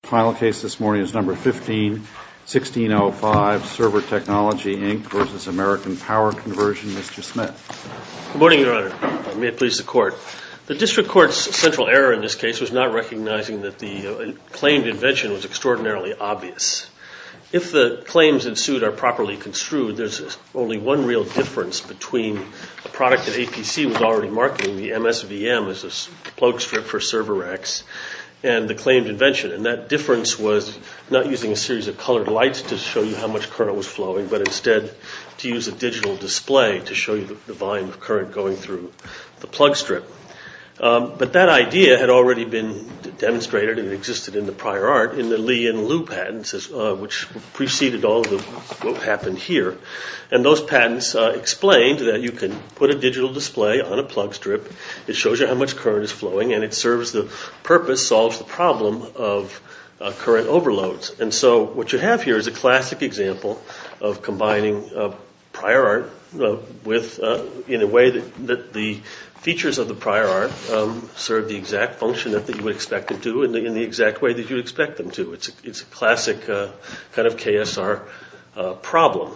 Good morning, Your Honor. May it please the Court. The District Court's central error in this case was not recognizing that the claimed invention was extraordinarily obvious. If the claims ensued are properly construed, there's only one real difference between a product that APC was already marketing, the MSVM, as a plug strip for server racks, and the claimed invention. And that difference was not using a series of colored lights to show you how much current was flowing, but instead to use a digital display to show you the volume of current going through the plug strip. But that idea had already been demonstrated and existed in the prior art in the Lee and Liu patents, which preceded all of what happened here. And those patents explained that you can put a digital display on a plug strip, it shows you how much current is flowing, and it serves the purpose, solves the problem of current overloads. And so what you have here is a classic example of combining prior art in a way that the features of the prior art serve the exact function that you would expect them to, in the exact way that you would expect them to. It's a classic kind of KSR problem.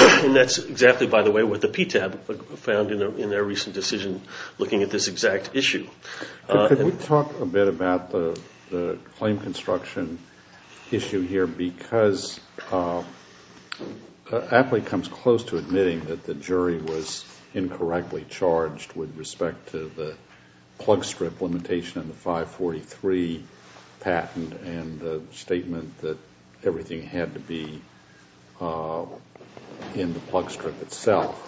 And that's exactly, by the way, what the PTAB found in their recent decision looking at this exact issue. Could we talk a bit about the claim construction issue here? Because Apley comes close to admitting that the jury was incorrectly charged with respect to the plug strip limitation in the 543 patent and the statement that everything had to be in the plug strip itself.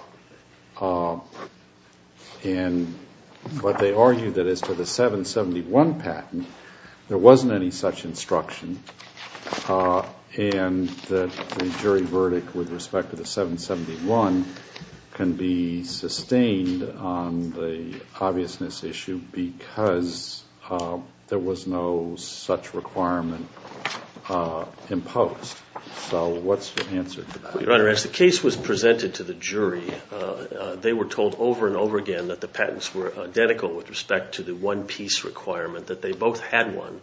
And so they argued that as to the 771 patent, there wasn't any such instruction and that the jury verdict with respect to the 771 can be sustained on the obviousness issue because there was no such requirement imposed. So what's your answer to that? Your Honor, as the case was presented to the jury, they were told over and over again that the patents were identical with respect to the one-piece requirement, that they both had one,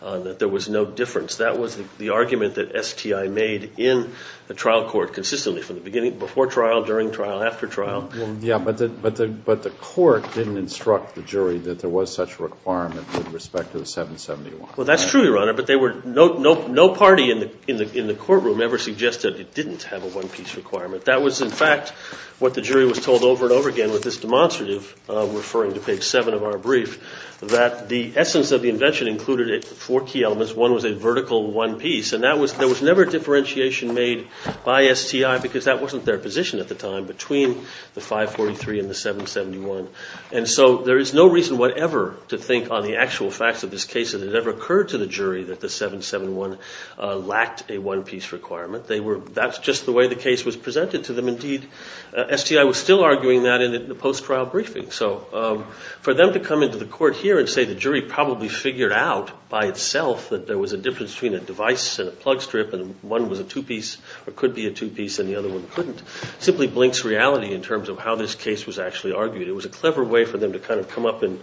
that there was no difference. That was the argument that STI made in the trial court consistently from the beginning, before trial, during trial, after trial. But the court didn't instruct the jury that there was such a requirement with respect to the 771. Well, that's true, Your Honor, but no party in the courtroom ever suggested it didn't have a one-piece requirement. That was, in fact, what the jury was told over and over again with this demonstrative, referring to page 7 of our brief, that the essence of the invention included four key elements. One was a vertical one-piece, and there was never a differentiation made by STI because that wasn't their position at the time between the 543 and the 771. And so there is no reason whatever to think on the actual facts of this case that it ever occurred to the jury that the 771 lacked a one-piece requirement. That's just the way the case was presented to them. Indeed, STI was still arguing that in the post-trial briefing. So for them to come into the court here and say the jury probably figured out by itself that there was a difference between a device and a plug strip, and one was a two-piece or could be a two-piece and the other one couldn't, simply blinks reality in terms of how this case was actually argued. It was a clever way for them to kind of come up and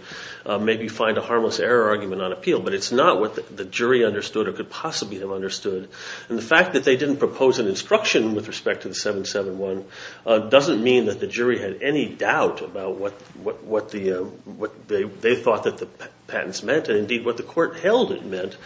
maybe find a harmless error argument on appeal. But it's not what the jury understood or could possibly have understood. And the fact that the 771 doesn't mean that the jury had any doubt about what they thought that the patents meant, and indeed what the court held it meant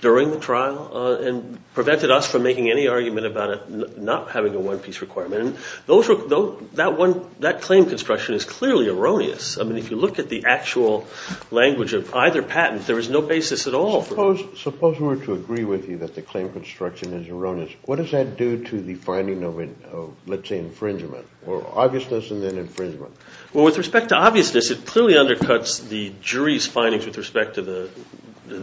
during the trial, and prevented us from making any argument about it not having a one-piece requirement. That claim construction is clearly erroneous. I mean, if you look at the actual language of either patent, there is no basis at all for it. Suppose we were to agree with you that the claim construction is erroneous. What does that do to the finding of, let's say, infringement, or obviousness and then infringement? Well, with respect to obviousness, it clearly undercuts the jury's findings with respect to the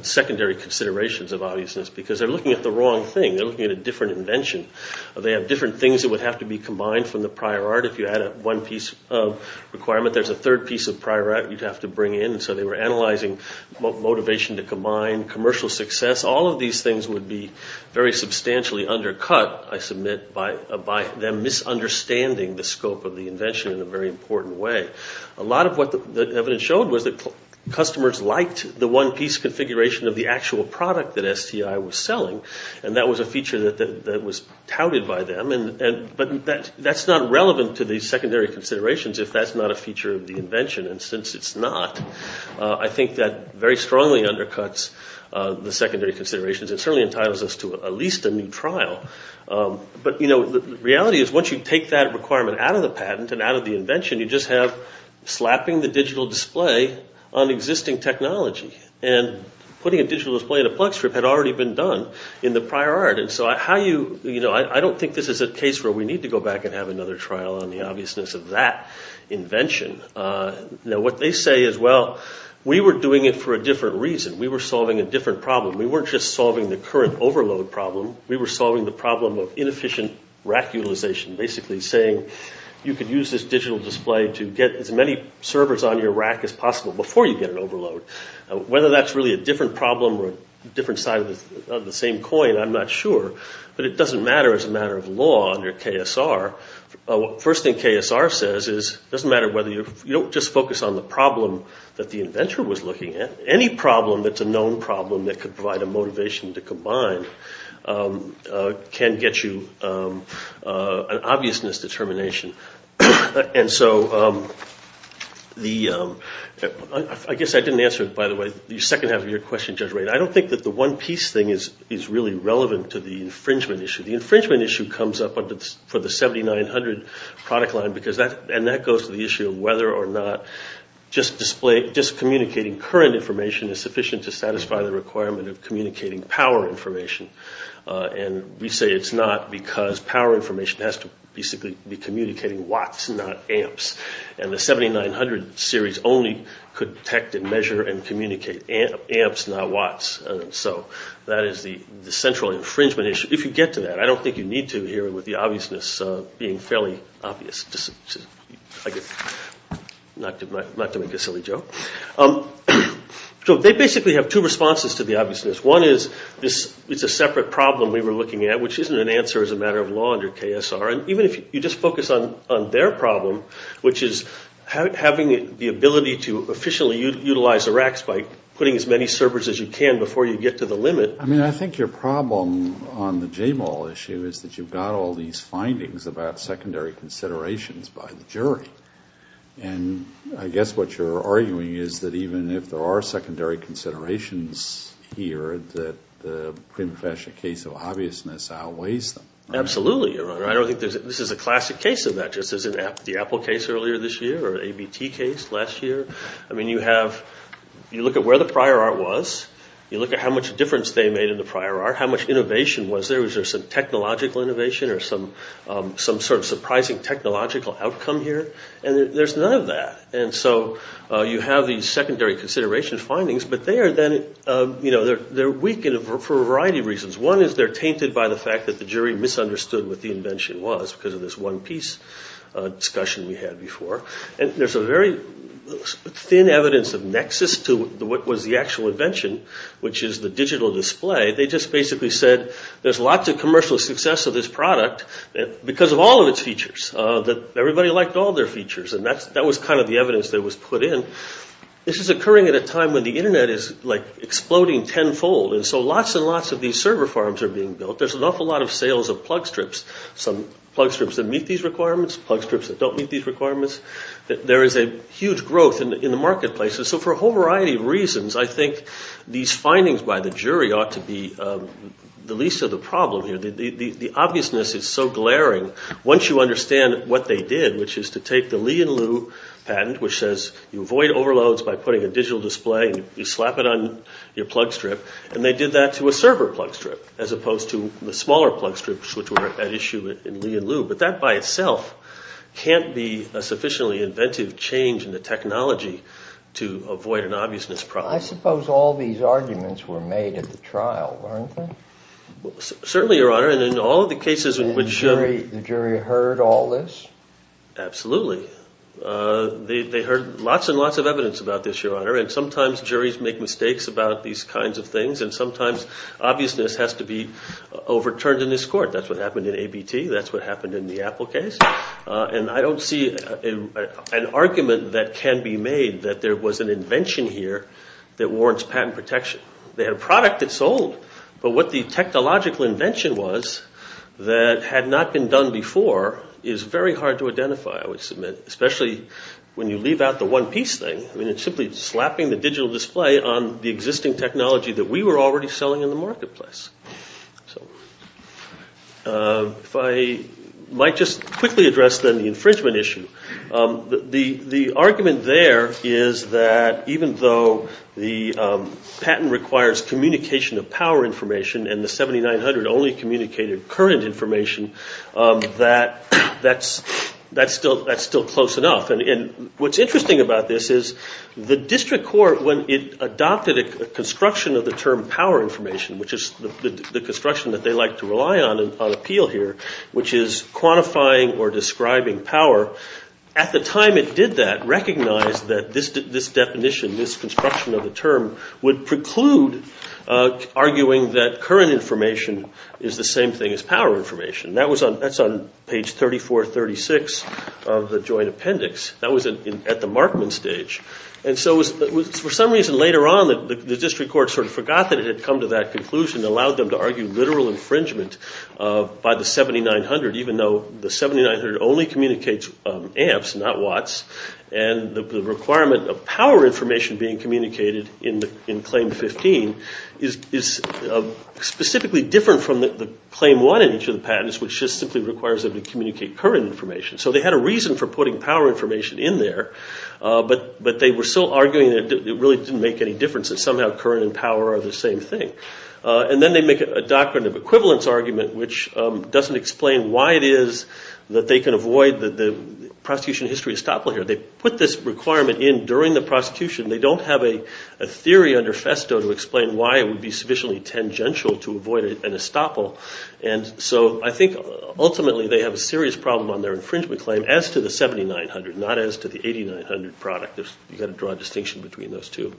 secondary considerations of obviousness, because they're looking at the wrong thing. They're looking at a different invention. They have different things that would have to be combined from the prior art. If you had a one-piece requirement, there's a third piece of prior art you'd have to bring in. So they were analyzing motivation to combine commercial success. All of these things would be very substantially undercut, I submit, by them misunderstanding the scope of the invention in a very important way. A lot of what the evidence showed was that customers liked the one-piece configuration of the actual product that STI was selling, and that was a feature that was touted by them. But that's not relevant to the secondary considerations if that's not a feature of the patent. And since it's not, I think that very strongly undercuts the secondary considerations and certainly entitles us to at least a new trial. But the reality is once you take that requirement out of the patent and out of the invention, you just have slapping the digital display on existing technology. And putting a digital display in a plug strip had already been done in the prior art. And so I don't think this is a case where we need to go back and have another trial on the obviousness of that invention. Now, what they say is, well, we were doing it for a different reason. We were solving a different problem. We weren't just solving the current overload problem. We were solving the problem of inefficient rack utilization, basically saying you could use this digital display to get as many servers on your rack as possible before you get an overload. Whether that's really a different problem or a different side of the same coin, I'm not sure. But it doesn't matter whether you're, you don't just focus on the problem that the inventor was looking at. Any problem that's a known problem that could provide a motivation to combine can get you an obviousness determination. And so the, I guess I didn't answer it, by the way, the second half of your question, Judge Ray. And I don't think that the one piece thing is really relevant to the infringement issue. The infringement issue comes up for the 7900 product line because that, and that goes to the issue of whether or not just display, just communicating current information is sufficient to satisfy the requirement of communicating power information. And we say it's not because power information has to basically be communicating watts, not amps. And the 7900 series only could detect and measure and communicate amps, not watts. And so that is the central infringement issue. If you get to that, I don't think you have the obviousness being fairly obvious. Not to make a silly joke. So they basically have two responses to the obviousness. One is it's a separate problem we were looking at, which isn't an answer as a matter of law under KSR. And even if you just focus on their problem, which is having the ability to efficiently utilize the racks by putting as many servers as you can before you get to the limit. I mean, I think your problem on the J-Mall issue is that you've got all these findings about secondary considerations by the jury. And I guess what you're arguing is that even if there are secondary considerations here, that the prima facie case of obviousness outweighs them. Absolutely, Your Honor. I don't think there's, this is a classic case of that, just as in the Apple case earlier this year, or the ABT case last year. I mean, you have, you look at where the prior art was, you look at how much difference they made in the prior art, how much innovation was there. Was there some technological innovation or some sort of surprising technological outcome here? And there's none of that. And so you have these secondary consideration findings, but they are then, you know, they're weak for a variety of reasons. One is they're tainted by the fact that the jury misunderstood what the invention was because of this one piece discussion we had before. And there's a very thin evidence of nexus to what was the actual invention, which is the digital display. They just basically said there's lots of commercial success of this product because of all of its features, that everybody liked all their features. And that was kind of the evidence that was put in. This is occurring at a time when the Internet is, like, exploding tenfold. And so lots and lots of these server farms are being built. There's an awful lot of sales of plug strips, some plug strips that meet these requirements, plug strips that don't meet these requirements. There is a huge growth in the marketplaces. So for a whole variety of reasons, I think these findings by the jury ought to be the least of the problem here. The obviousness is so glaring once you understand what they did, which is to take the Li and Liu patent, which says you avoid overloads by putting a digital display, you slap it on your plug strip, and they did that to a server plug strip as opposed to the smaller plug strips, which were at the same level. That, by itself, can't be a sufficiently inventive change in the technology to avoid an obviousness problem. I suppose all these arguments were made at the trial, weren't they? Certainly, Your Honor. And in all of the cases in which... And the jury heard all this? Absolutely. They heard lots and lots of evidence about this, Your Honor. And sometimes juries make mistakes about these kinds of things, and sometimes obviousness has to be overturned in this court. That's what happened in ABT. That's what happened in the Apple case. And I don't see an argument that can be made that there was an invention here that warrants patent protection. They had a product that sold, but what the technological invention was that had not been done before is very hard to identify, I would submit, especially when you leave out the one-piece thing. I mean, it's simply slapping the digital display on the existing technology that we were already selling in the marketplace. If I might just quickly address, then, the infringement issue. The argument there is that even though the patent requires communication of power information and the 7900 only communicated current information, that's still close enough. And what's interesting about this is the court adopted a construction of the term power information, which is the construction that they like to rely on on appeal here, which is quantifying or describing power. At the time it did that, recognized that this definition, this construction of the term would preclude arguing that current information is the same thing as power information. That's on page 3436 of the joint appendix. That was at the Markman stage. And so for some reason later on the district court sort of forgot that it had come to that conclusion and allowed them to argue literal infringement by the 7900, even though the 7900 only communicates amps, not watts, and the requirement of power information being communicated in Claim 15 is specifically different from the Claim 1 in each of the patents, which just simply requires them to communicate current information. So they had a reason for putting power information in there, but they were still arguing that it really didn't make any difference, that somehow current and power are the same thing. And then they make a doctrine of equivalence argument which doesn't explain why it is that they can avoid the prosecution history estoppel here. They put this requirement in during the prosecution. They don't have a theory under FESTO to explain why it would be sufficiently tangential to avoid an estoppel. And so I think ultimately they have a serious problem on their infringement claim as to the 7900, not as to the 8900 product. You have to draw a distinction between those two.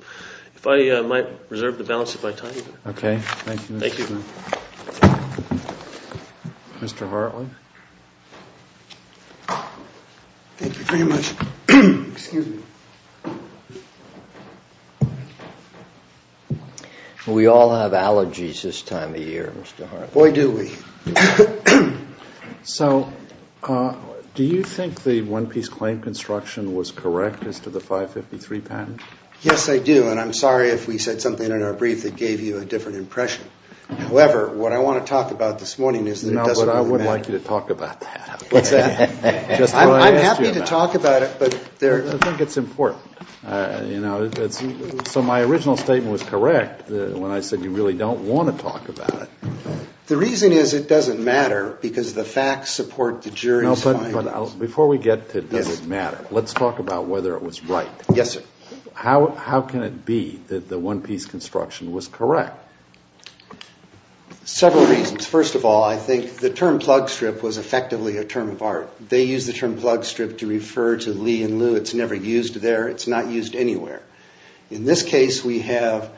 If I might reserve the balance if I time you. Okay. Thank you. Thank you. Mr. Hartley? Thank you very much. Excuse me. We all have allergies this time of year, Mr. Hartley. Boy, do we. So do you think the one-piece claim construction was correct as to the 553 patent? Yes, I do. And I'm sorry if we said something in our brief that gave you a different impression. However, what I want to talk about this morning is that it doesn't really matter. No, but I would like you to talk about that. What's that? Just what I asked you about. I'm happy to talk about it, but there... I think it's important. So my original statement was correct when I said you really don't want to talk about it. The reason is it doesn't matter because the facts support the jury's findings. No, but before we get to does it matter, let's talk about whether it was right. Yes, sir. How can it be that the one-piece construction was correct? Several reasons. First of all, I think the term plug strip was effectively a term of art. They used the term plug strip to refer to Lee and Lew. It's never used there. It's not used anywhere. In this case, we have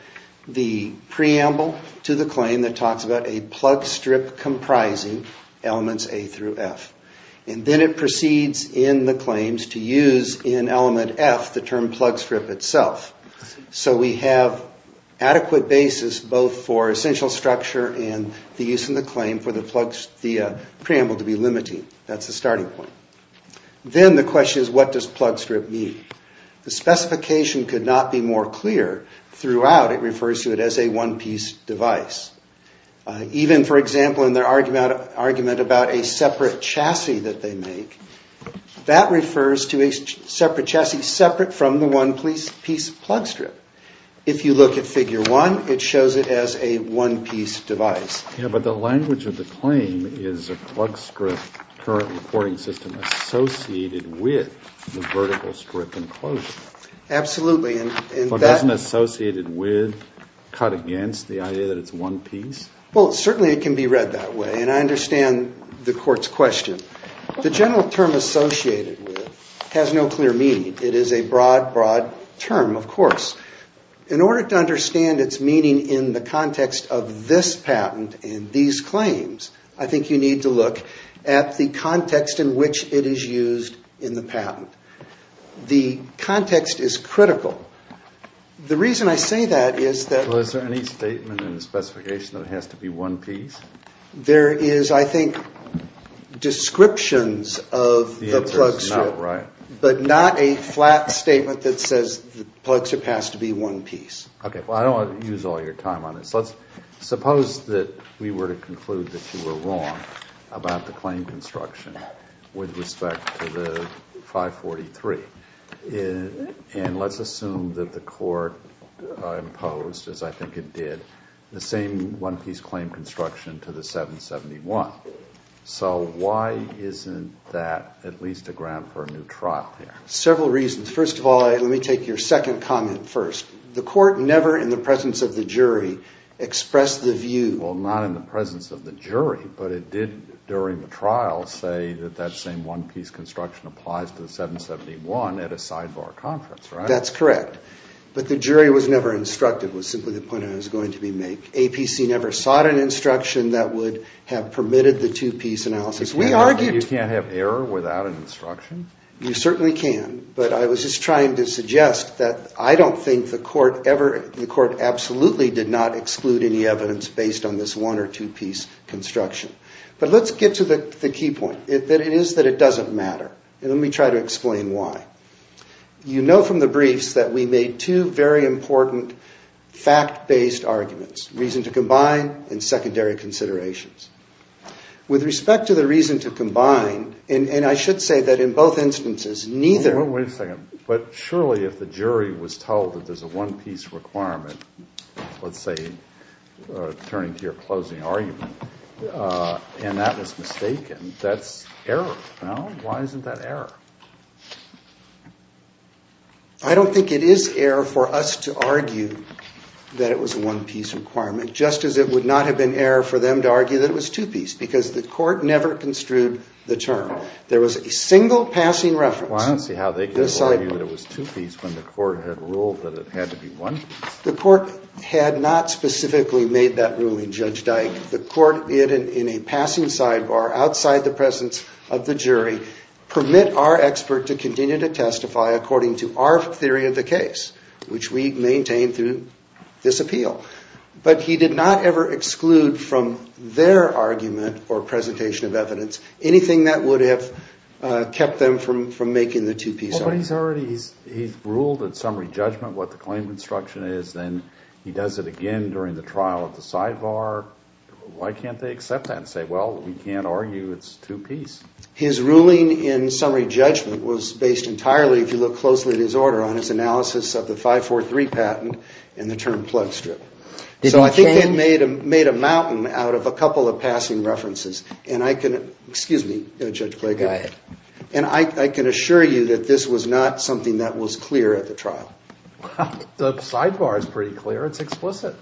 the preamble to the claim that talks about a plug strip comprising elements A through F. And then it proceeds in the claims to use in element F the term plug strip itself. So we have adequate basis both for essential structure and the use of the claim for the preamble to be limiting. That's the starting point. Then the question is what does plug strip mean? The specification could not be more clear. Throughout, it refers to it as a one-piece device. Even, for example, in their argument about a separate chassis that they make, that refers to a separate chassis separate from the one-piece plug strip. If you look at figure one, it shows it as a one-piece device. But the language of the claim is a plug strip current reporting system associated with the vertical strip enclosure. Absolutely. But isn't associated with cut against the idea that it's one piece? Well, certainly it can be read that way. And I understand the court's question. The general term associated with it has no clear meaning. It is a broad, broad term, of course. In order to understand its meaning in the context of this patent and these claims, I think you need to look at the context in which it is used in the patent. The context is critical. The reason I say that is that... Well, is there any statement in the specification that it has to be one piece? There is, I think, descriptions of the plug strip. But not a flat statement that says the plug strip has to be one piece. Okay, well, I don't want to use all your time on this. Let's suppose that we were to conclude that you were wrong about the claim construction with respect to the 543. And let's assume that the court imposed, as I think it did, the same one-piece claim construction to the 771. So why isn't that at least a ground for a new trial here? Several reasons. First of all, let me take your second comment first. The court never, in the presence of the jury, expressed the view... Well, not in the presence of the jury. But it did, during the trial, say that that same one-piece construction applies to the 771 at a sidebar conference, right? That's correct. But the jury was never instructed. It was simply the point I was going to make. APC never sought an instruction that would have permitted the two-piece analysis. We argued... You can't have error without an instruction? You certainly can. But I was just trying to suggest that I don't think the court ever... The court absolutely did not exclude any evidence based on this one- or two-piece construction. But let's get to the key point, that it is that it doesn't matter. And let me try to explain why. You know from the briefs that we made two very important fact-based arguments, reason to combine and secondary considerations. With respect to the reason to combine, and I should say that in both instances, neither... Wait a second. But surely if the jury was told that there's a one-piece requirement, let's say, turning to your closing argument, and that was mistaken, that's error. Well, why isn't that error? I don't think it is error for us to argue that it was a one-piece requirement, just as it would not have been error for them to argue that it was two-piece. Because the court never construed the term. There was a single passing reference. Well, I don't see how they could argue that it was two-piece when the court had ruled that it had to be one. The court had not specifically made that ruling, Judge Dyke. The court, in a passing sidebar, outside the presence of the jury, permit our expert to continue to testify according to our theory of the case, which we maintain through this appeal. But he did not ever exclude from their argument or presentation of evidence anything that would have kept them from making the two-piece argument. But he's already ruled in summary judgment what the claim construction is. Then he does it again during the trial at the sidebar. Why can't they accept that and say, well, we can't argue it's two-piece? His ruling in summary judgment was based entirely, if you look closely at his order, on his analysis of the 543 patent and the term plug strip. So I think they made a mountain out of a couple of passing references. And I can – excuse me, Judge Clayton. Go ahead. And I can assure you that this was not something that was clear at the trial. The sidebar is pretty clear. It's explicit.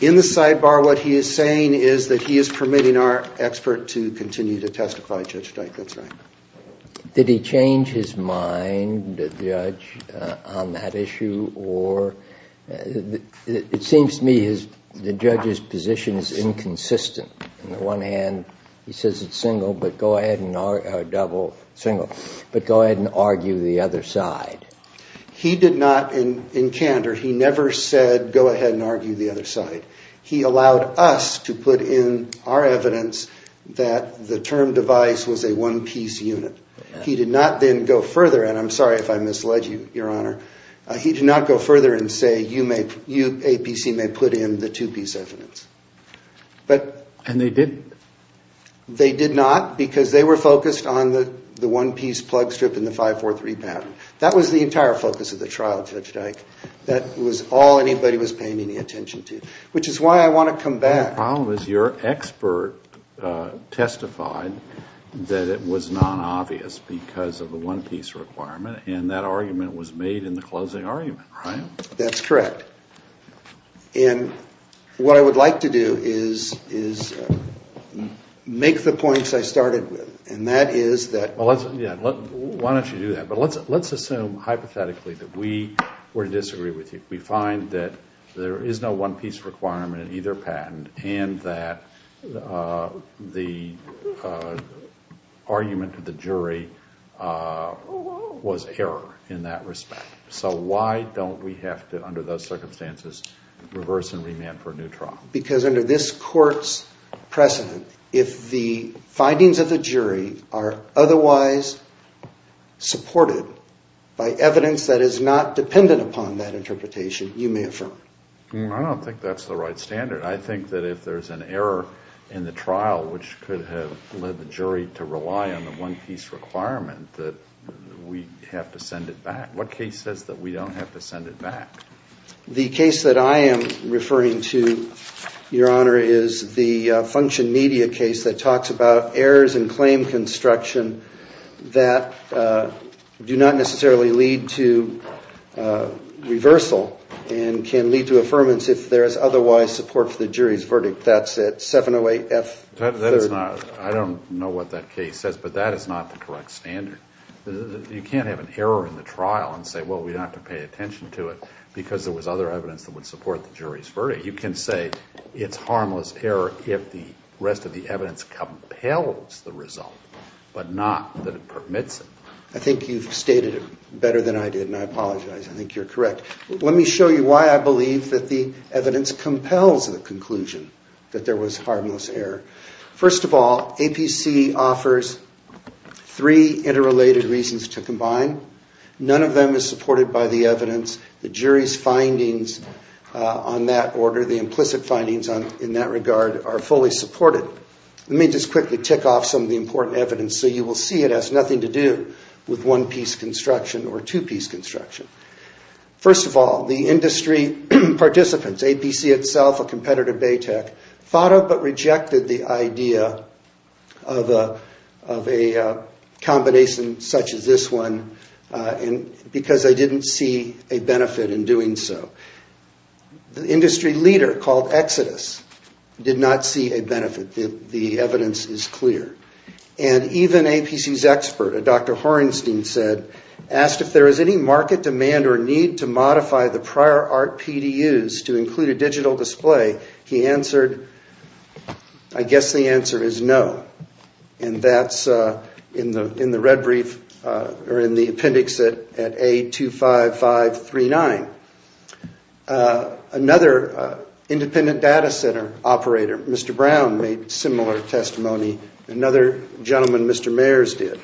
In the sidebar, what he is saying is that he is permitting our expert to continue to testify, Judge Dyke. That's right. Did he change his mind, the judge, on that issue? Or it seems to me the judge's position is inconsistent. On the one hand, he says it's single, but go ahead and argue the other side. He did not, in candor, he never said go ahead and argue the other side. He allowed us to put in our evidence that the term device was a one-piece unit. He did not then go further, and I'm sorry if I misled you, Your Honor. He did not go further and say you may – you, APC, may put in the two-piece evidence. And they didn't? They did not because they were focused on the one-piece plug strip and the 543 pattern. That was the entire focus of the trial, Judge Dyke. That was all anybody was paying any attention to, which is why I want to come back. The problem is your expert testified that it was non-obvious because of the one-piece requirement, and that argument was made in the closing argument, right? That's correct. And what I would like to do is make the points I started with, and that is that – Well, yeah, why don't you do that? But let's assume hypothetically that we were to disagree with you. We find that there is no one-piece requirement in either patent and that the argument of the jury was error in that respect. So why don't we have to, under those circumstances, reverse and remand for a new trial? Because under this Court's precedent, if the findings of the jury are otherwise supported by evidence that is not dependent upon that interpretation, you may affirm. I don't think that's the right standard. I think that if there's an error in the trial, which could have led the jury to rely on the one-piece requirement, that we have to send it back. What case says that we don't have to send it back? The case that I am referring to, Your Honor, is the Function Media case that talks about errors in claim construction that do not necessarily lead to reversal and can lead to affirmance if there is otherwise support for the jury's verdict. That's it, 708F3rd. I don't know what that case says, but that is not the correct standard. You can't have an error in the trial and say, well, we don't have to pay attention to it because there was other evidence that would support the jury's verdict. You can say it's harmless error if the rest of the evidence compels the result, but not that it permits it. I think you've stated it better than I did, and I apologize. I think you're correct. Let me show you why I believe that the evidence compels the conclusion that there was harmless error. First of all, APC offers three interrelated reasons to combine. None of them is supported by the evidence. The jury's findings on that order, the implicit findings in that regard, are fully supported. Let me just quickly tick off some of the important evidence so you will see it has nothing to do with one-piece construction or two-piece construction. First of all, the industry participants, APC itself, a competitor to BATEC, thought of but rejected the idea of a combination such as this one because they didn't see a benefit in doing so. The industry leader, called Exodus, did not see a benefit. The evidence is clear. And even APC's expert, a Dr. Horenstein, asked if there was any market demand or need to modify the prior art PDUs to include a digital display. He answered, I guess the answer is no. And that's in the red brief or in the appendix at A25539. Another independent data center operator, Mr. Brown, made similar testimony. Another gentleman, Mr. Mayers, did.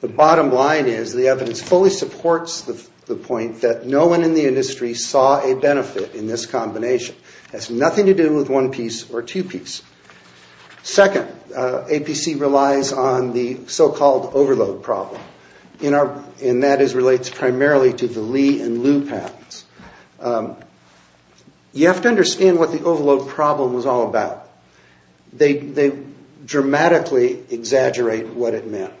The bottom line is the evidence fully supports the point that no one in the industry saw a benefit in this combination. It has nothing to do with one-piece or two-piece. Second, APC relies on the so-called overload problem. And that relates primarily to the Lee and Liu patents. You have to understand what the overload problem was all about. They dramatically exaggerate what it meant.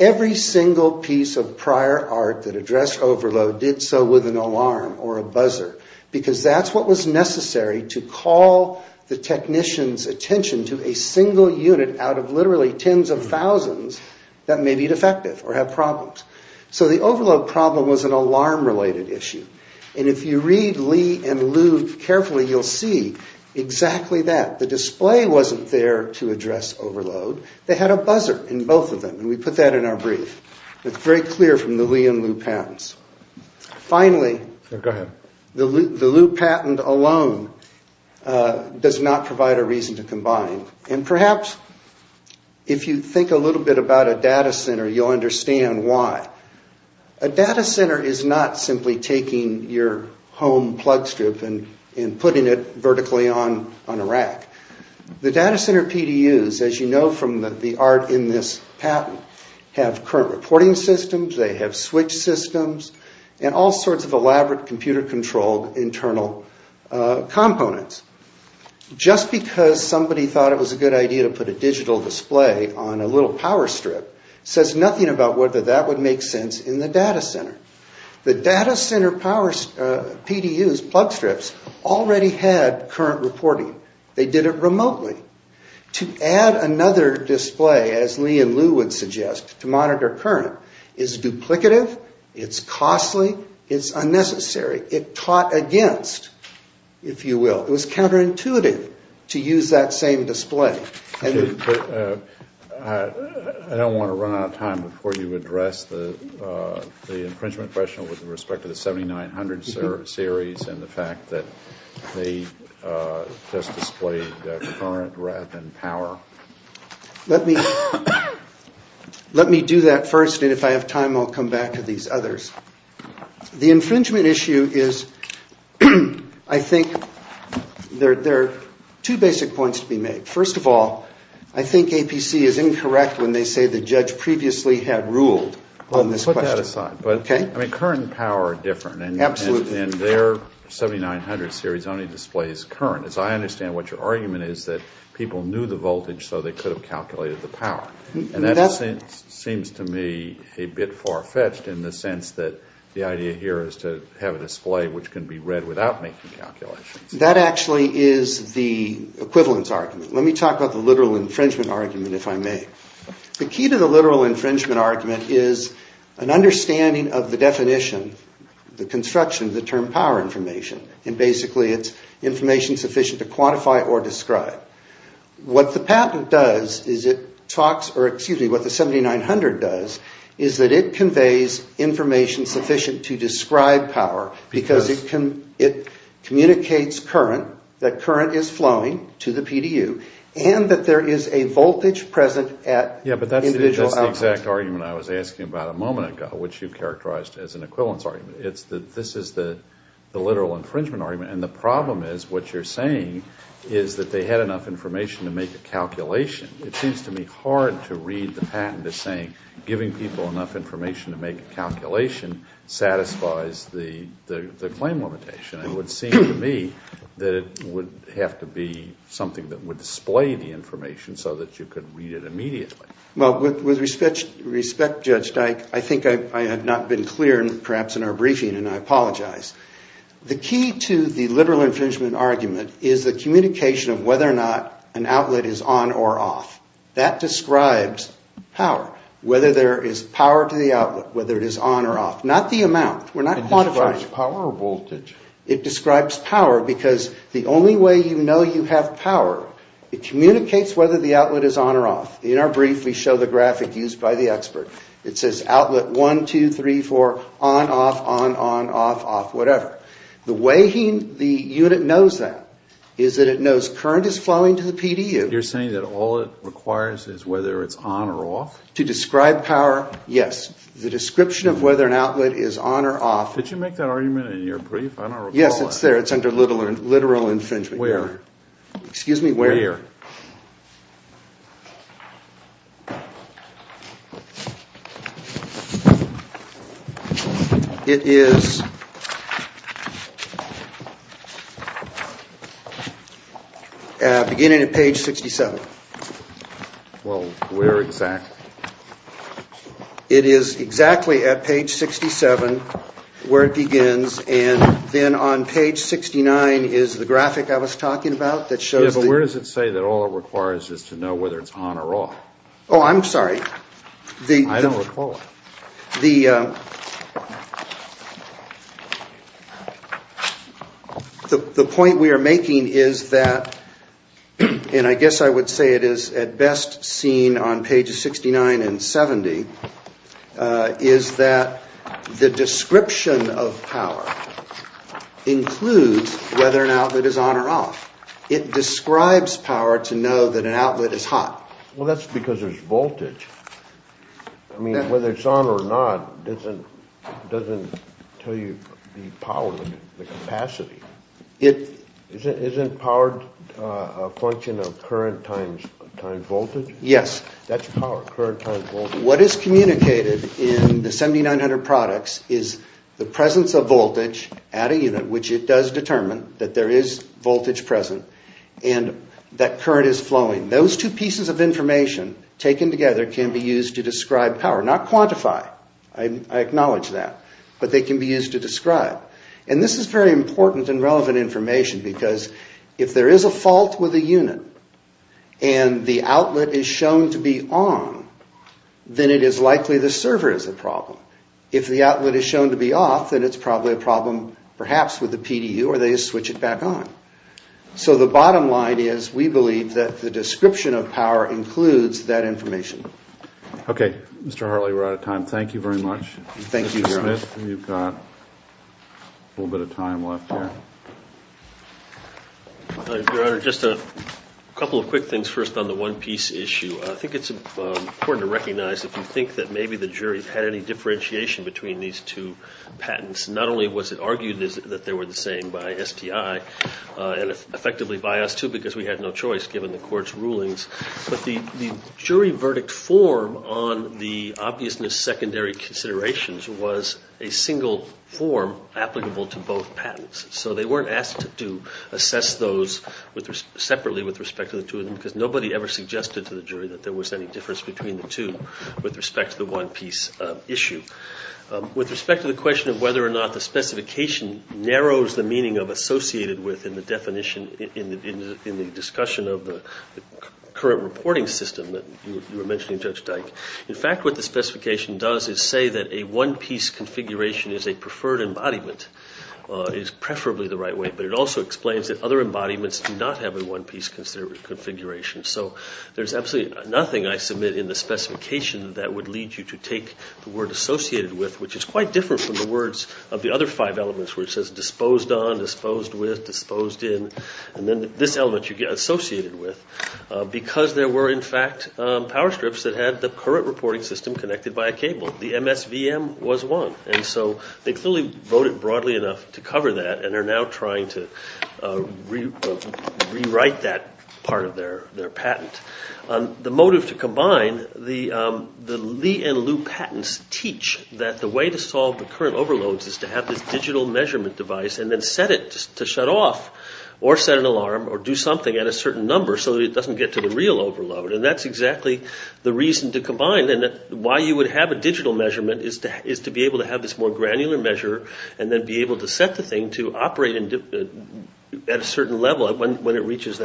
Every single piece of prior art that addressed overload did so with an alarm or a buzzer because that's what was necessary to call the technician's attention to a single unit out of literally tens of thousands that may be defective or have problems. So the overload problem was an alarm-related issue. And if you read Lee and Liu carefully, you'll see exactly that. The display wasn't there to address overload. They had a buzzer in both of them, and we put that in our brief. It's very clear from the Lee and Liu patents. Finally, the Liu patent alone does not provide a reason to combine. And perhaps if you think a little bit about a data center, you'll understand why. A data center is not simply taking your home plug strip and putting it vertically on a rack. The data center PDUs, as you know from the art in this patent, have current reporting systems. They have switch systems and all sorts of elaborate computer-controlled internal components. Just because somebody thought it was a good idea to put a digital display on a little power strip says nothing about whether that would make sense in the data center. The data center PDUs, plug strips, already had current reporting. They did it remotely. To add another display, as Lee and Liu would suggest, to monitor current, is duplicative. It's costly. It's unnecessary. It caught against, if you will. It was counterintuitive to use that same display. I don't want to run out of time before you address the infringement question with respect to the 7900 series and the fact that they just displayed current rather than power. Let me do that first, and if I have time, I'll come back to these others. The infringement issue is, I think, there are two basic points to be made. First of all, I think APC is incorrect when they say the judge previously had ruled on this question. Well, put that aside. Okay? I mean, current and power are different. Absolutely. And their 7900 series only displays current. As I understand, what your argument is that people knew the voltage so they could have calculated the power. And that seems to me a bit far-fetched in the sense that the idea here is to have a display which can be read without making calculations. That actually is the equivalence argument. Let me talk about the literal infringement argument, if I may. The key to the literal infringement argument is an understanding of the definition, the construction, of the term power information. And basically, it's information sufficient to quantify or describe. What the patent does is it talks, or excuse me, what the 7900 does is that it conveys information sufficient to describe power because it communicates current, that current is flowing to the PDU, and that there is a voltage present at individual outputs. Yeah, but that's the exact argument I was asking about a moment ago, which you characterized as an equivalence argument. This is the literal infringement argument. And the problem is what you're saying is that they had enough information to make a calculation. It seems to me hard to read the patent as saying giving people enough information to make a calculation satisfies the claim limitation. It would seem to me that it would have to be something that would display the information so that you could read it immediately. Well, with respect, Judge Dyke, I think I have not been clear, perhaps in our briefing, and I apologize. The key to the literal infringement argument is the communication of whether or not an outlet is on or off. That describes power. Whether there is power to the outlet, whether it is on or off, not the amount. We're not quantifying. It describes power or voltage? It describes power because the only way you know you have power, it communicates whether the outlet is on or off. In our brief, we show the graphic used by the expert. It says outlet 1, 2, 3, 4, on, off, on, on, off, off, whatever. The way the unit knows that is that it knows current is flowing to the PDU. You're saying that all it requires is whether it's on or off? To describe power, yes. The description of whether an outlet is on or off. Did you make that argument in your brief? I don't recall it. Yes, it's there. It's under literal infringement. Where? Excuse me, where? Where? It is beginning at page 67. Well, where exactly? It is exactly at page 67 where it begins, and then on page 69 is the graphic I was talking about that shows the... Yes, but where does it say that all it requires is to know whether it's on or off? Oh, I'm sorry. I don't recall it. The point we are making is that, and I guess I would say it is at best seen on pages 69 and 70, is that the description of power includes whether an outlet is on or off. It describes power to know that an outlet is hot. Well, that's because there's voltage. I mean, whether it's on or not doesn't tell you the power, the capacity. Isn't power a function of current times voltage? Yes. That's power, current times voltage. What is communicated in the 7900 products is the presence of voltage at a unit, which it does determine that there is voltage present, and that current is flowing. Those two pieces of information taken together can be used to describe power, not quantify. I acknowledge that. But they can be used to describe. And this is very important and relevant information because if there is a fault with a unit and the outlet is shown to be on, then it is likely the server is the problem. If the outlet is shown to be off, then it's probably a problem perhaps with the PDU, or they switch it back on. So the bottom line is we believe that the description of power includes that information. Okay. Mr. Harley, we're out of time. Thank you very much. Thank you, Your Honor. Mr. Smith, you've got a little bit of time left here. Your Honor, just a couple of quick things first on the one-piece issue. I think it's important to recognize if you think that maybe the jury had any differentiation between these two patents, not only was it argued that they were the same by STI and effectively by us too because we had no choice given the court's rulings, but the jury verdict form on the obviousness secondary considerations was a single form applicable to both patents. So they weren't asked to assess those separately with respect to the two of them because nobody ever suggested to the jury that there was any difference between the two with respect to the one-piece issue. With respect to the question of whether or not the specification narrows the meaning of associated with in the definition in the discussion of the current reporting system that you were mentioning, Judge Dike, in fact what the specification does is say that a one-piece configuration is a preferred embodiment, is preferably the right way, but it also explains that other embodiments do not have a one-piece configuration. So there's absolutely nothing I submit in the specification that would lead you to take the word associated with, which is quite different from the words of the other five elements where it says disposed on, disposed with, disposed in, and then this element you get associated with because there were in fact power strips that had the current reporting system connected by a cable. The MSVM was one. And so they clearly voted broadly enough to cover that and are now trying to rewrite that part of their patent. The motive to combine the Lee and Liu patents teach that the way to solve the current overloads is to have this digital measurement device and then set it to shut off or set an alarm or do something at a certain number so that it doesn't get to the real overload. And that's exactly the reason to combine. And why you would have a digital measurement is to be able to have this more granular measure and then be able to set the thing to operate at a certain level when it reaches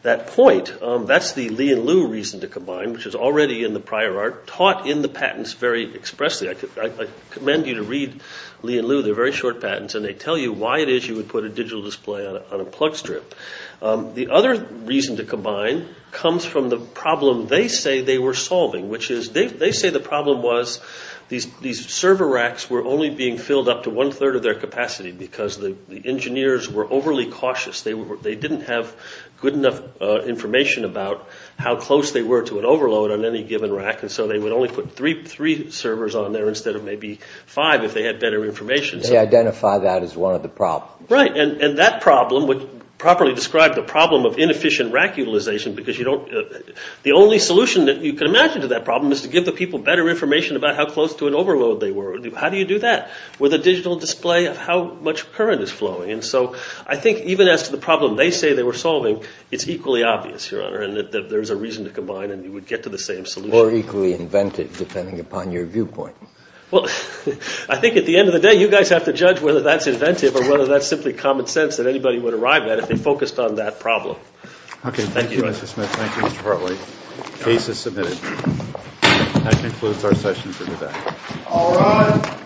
that point. That's the Lee and Liu reason to combine, which is already in the prior art, taught in the patents very expressly. I commend you to read Lee and Liu. They're very short patents, and they tell you why it is you would put a digital display on a plug strip. The other reason to combine comes from the problem they say they were solving, which is they say the problem was these server racks were only being filled up to one-third of their capacity because the engineers were overly cautious. They didn't have good enough information about how close they were to an overload on any given rack, and so they would only put three servers on there instead of maybe five if they had better information. They identified that as one of the problems. Right. And that problem would properly describe the problem of inefficient rack utilization because the only solution that you can imagine to that problem is to give the people better information about how close to an overload they were. How do you do that? With a digital display of how much current is flowing. And so I think even as to the problem they say they were solving, it's equally obvious, Your Honor, and that there's a reason to combine and you would get to the same solution. Or equally inventive, depending upon your viewpoint. Well, I think at the end of the day, you guys have to judge whether that's inventive or whether that's simply common sense that anybody would arrive at if they focused on that problem. Okay. Thank you, Mr. Smith. Thank you, Mr. Hartley. Case is submitted. That concludes our session for today. All rise.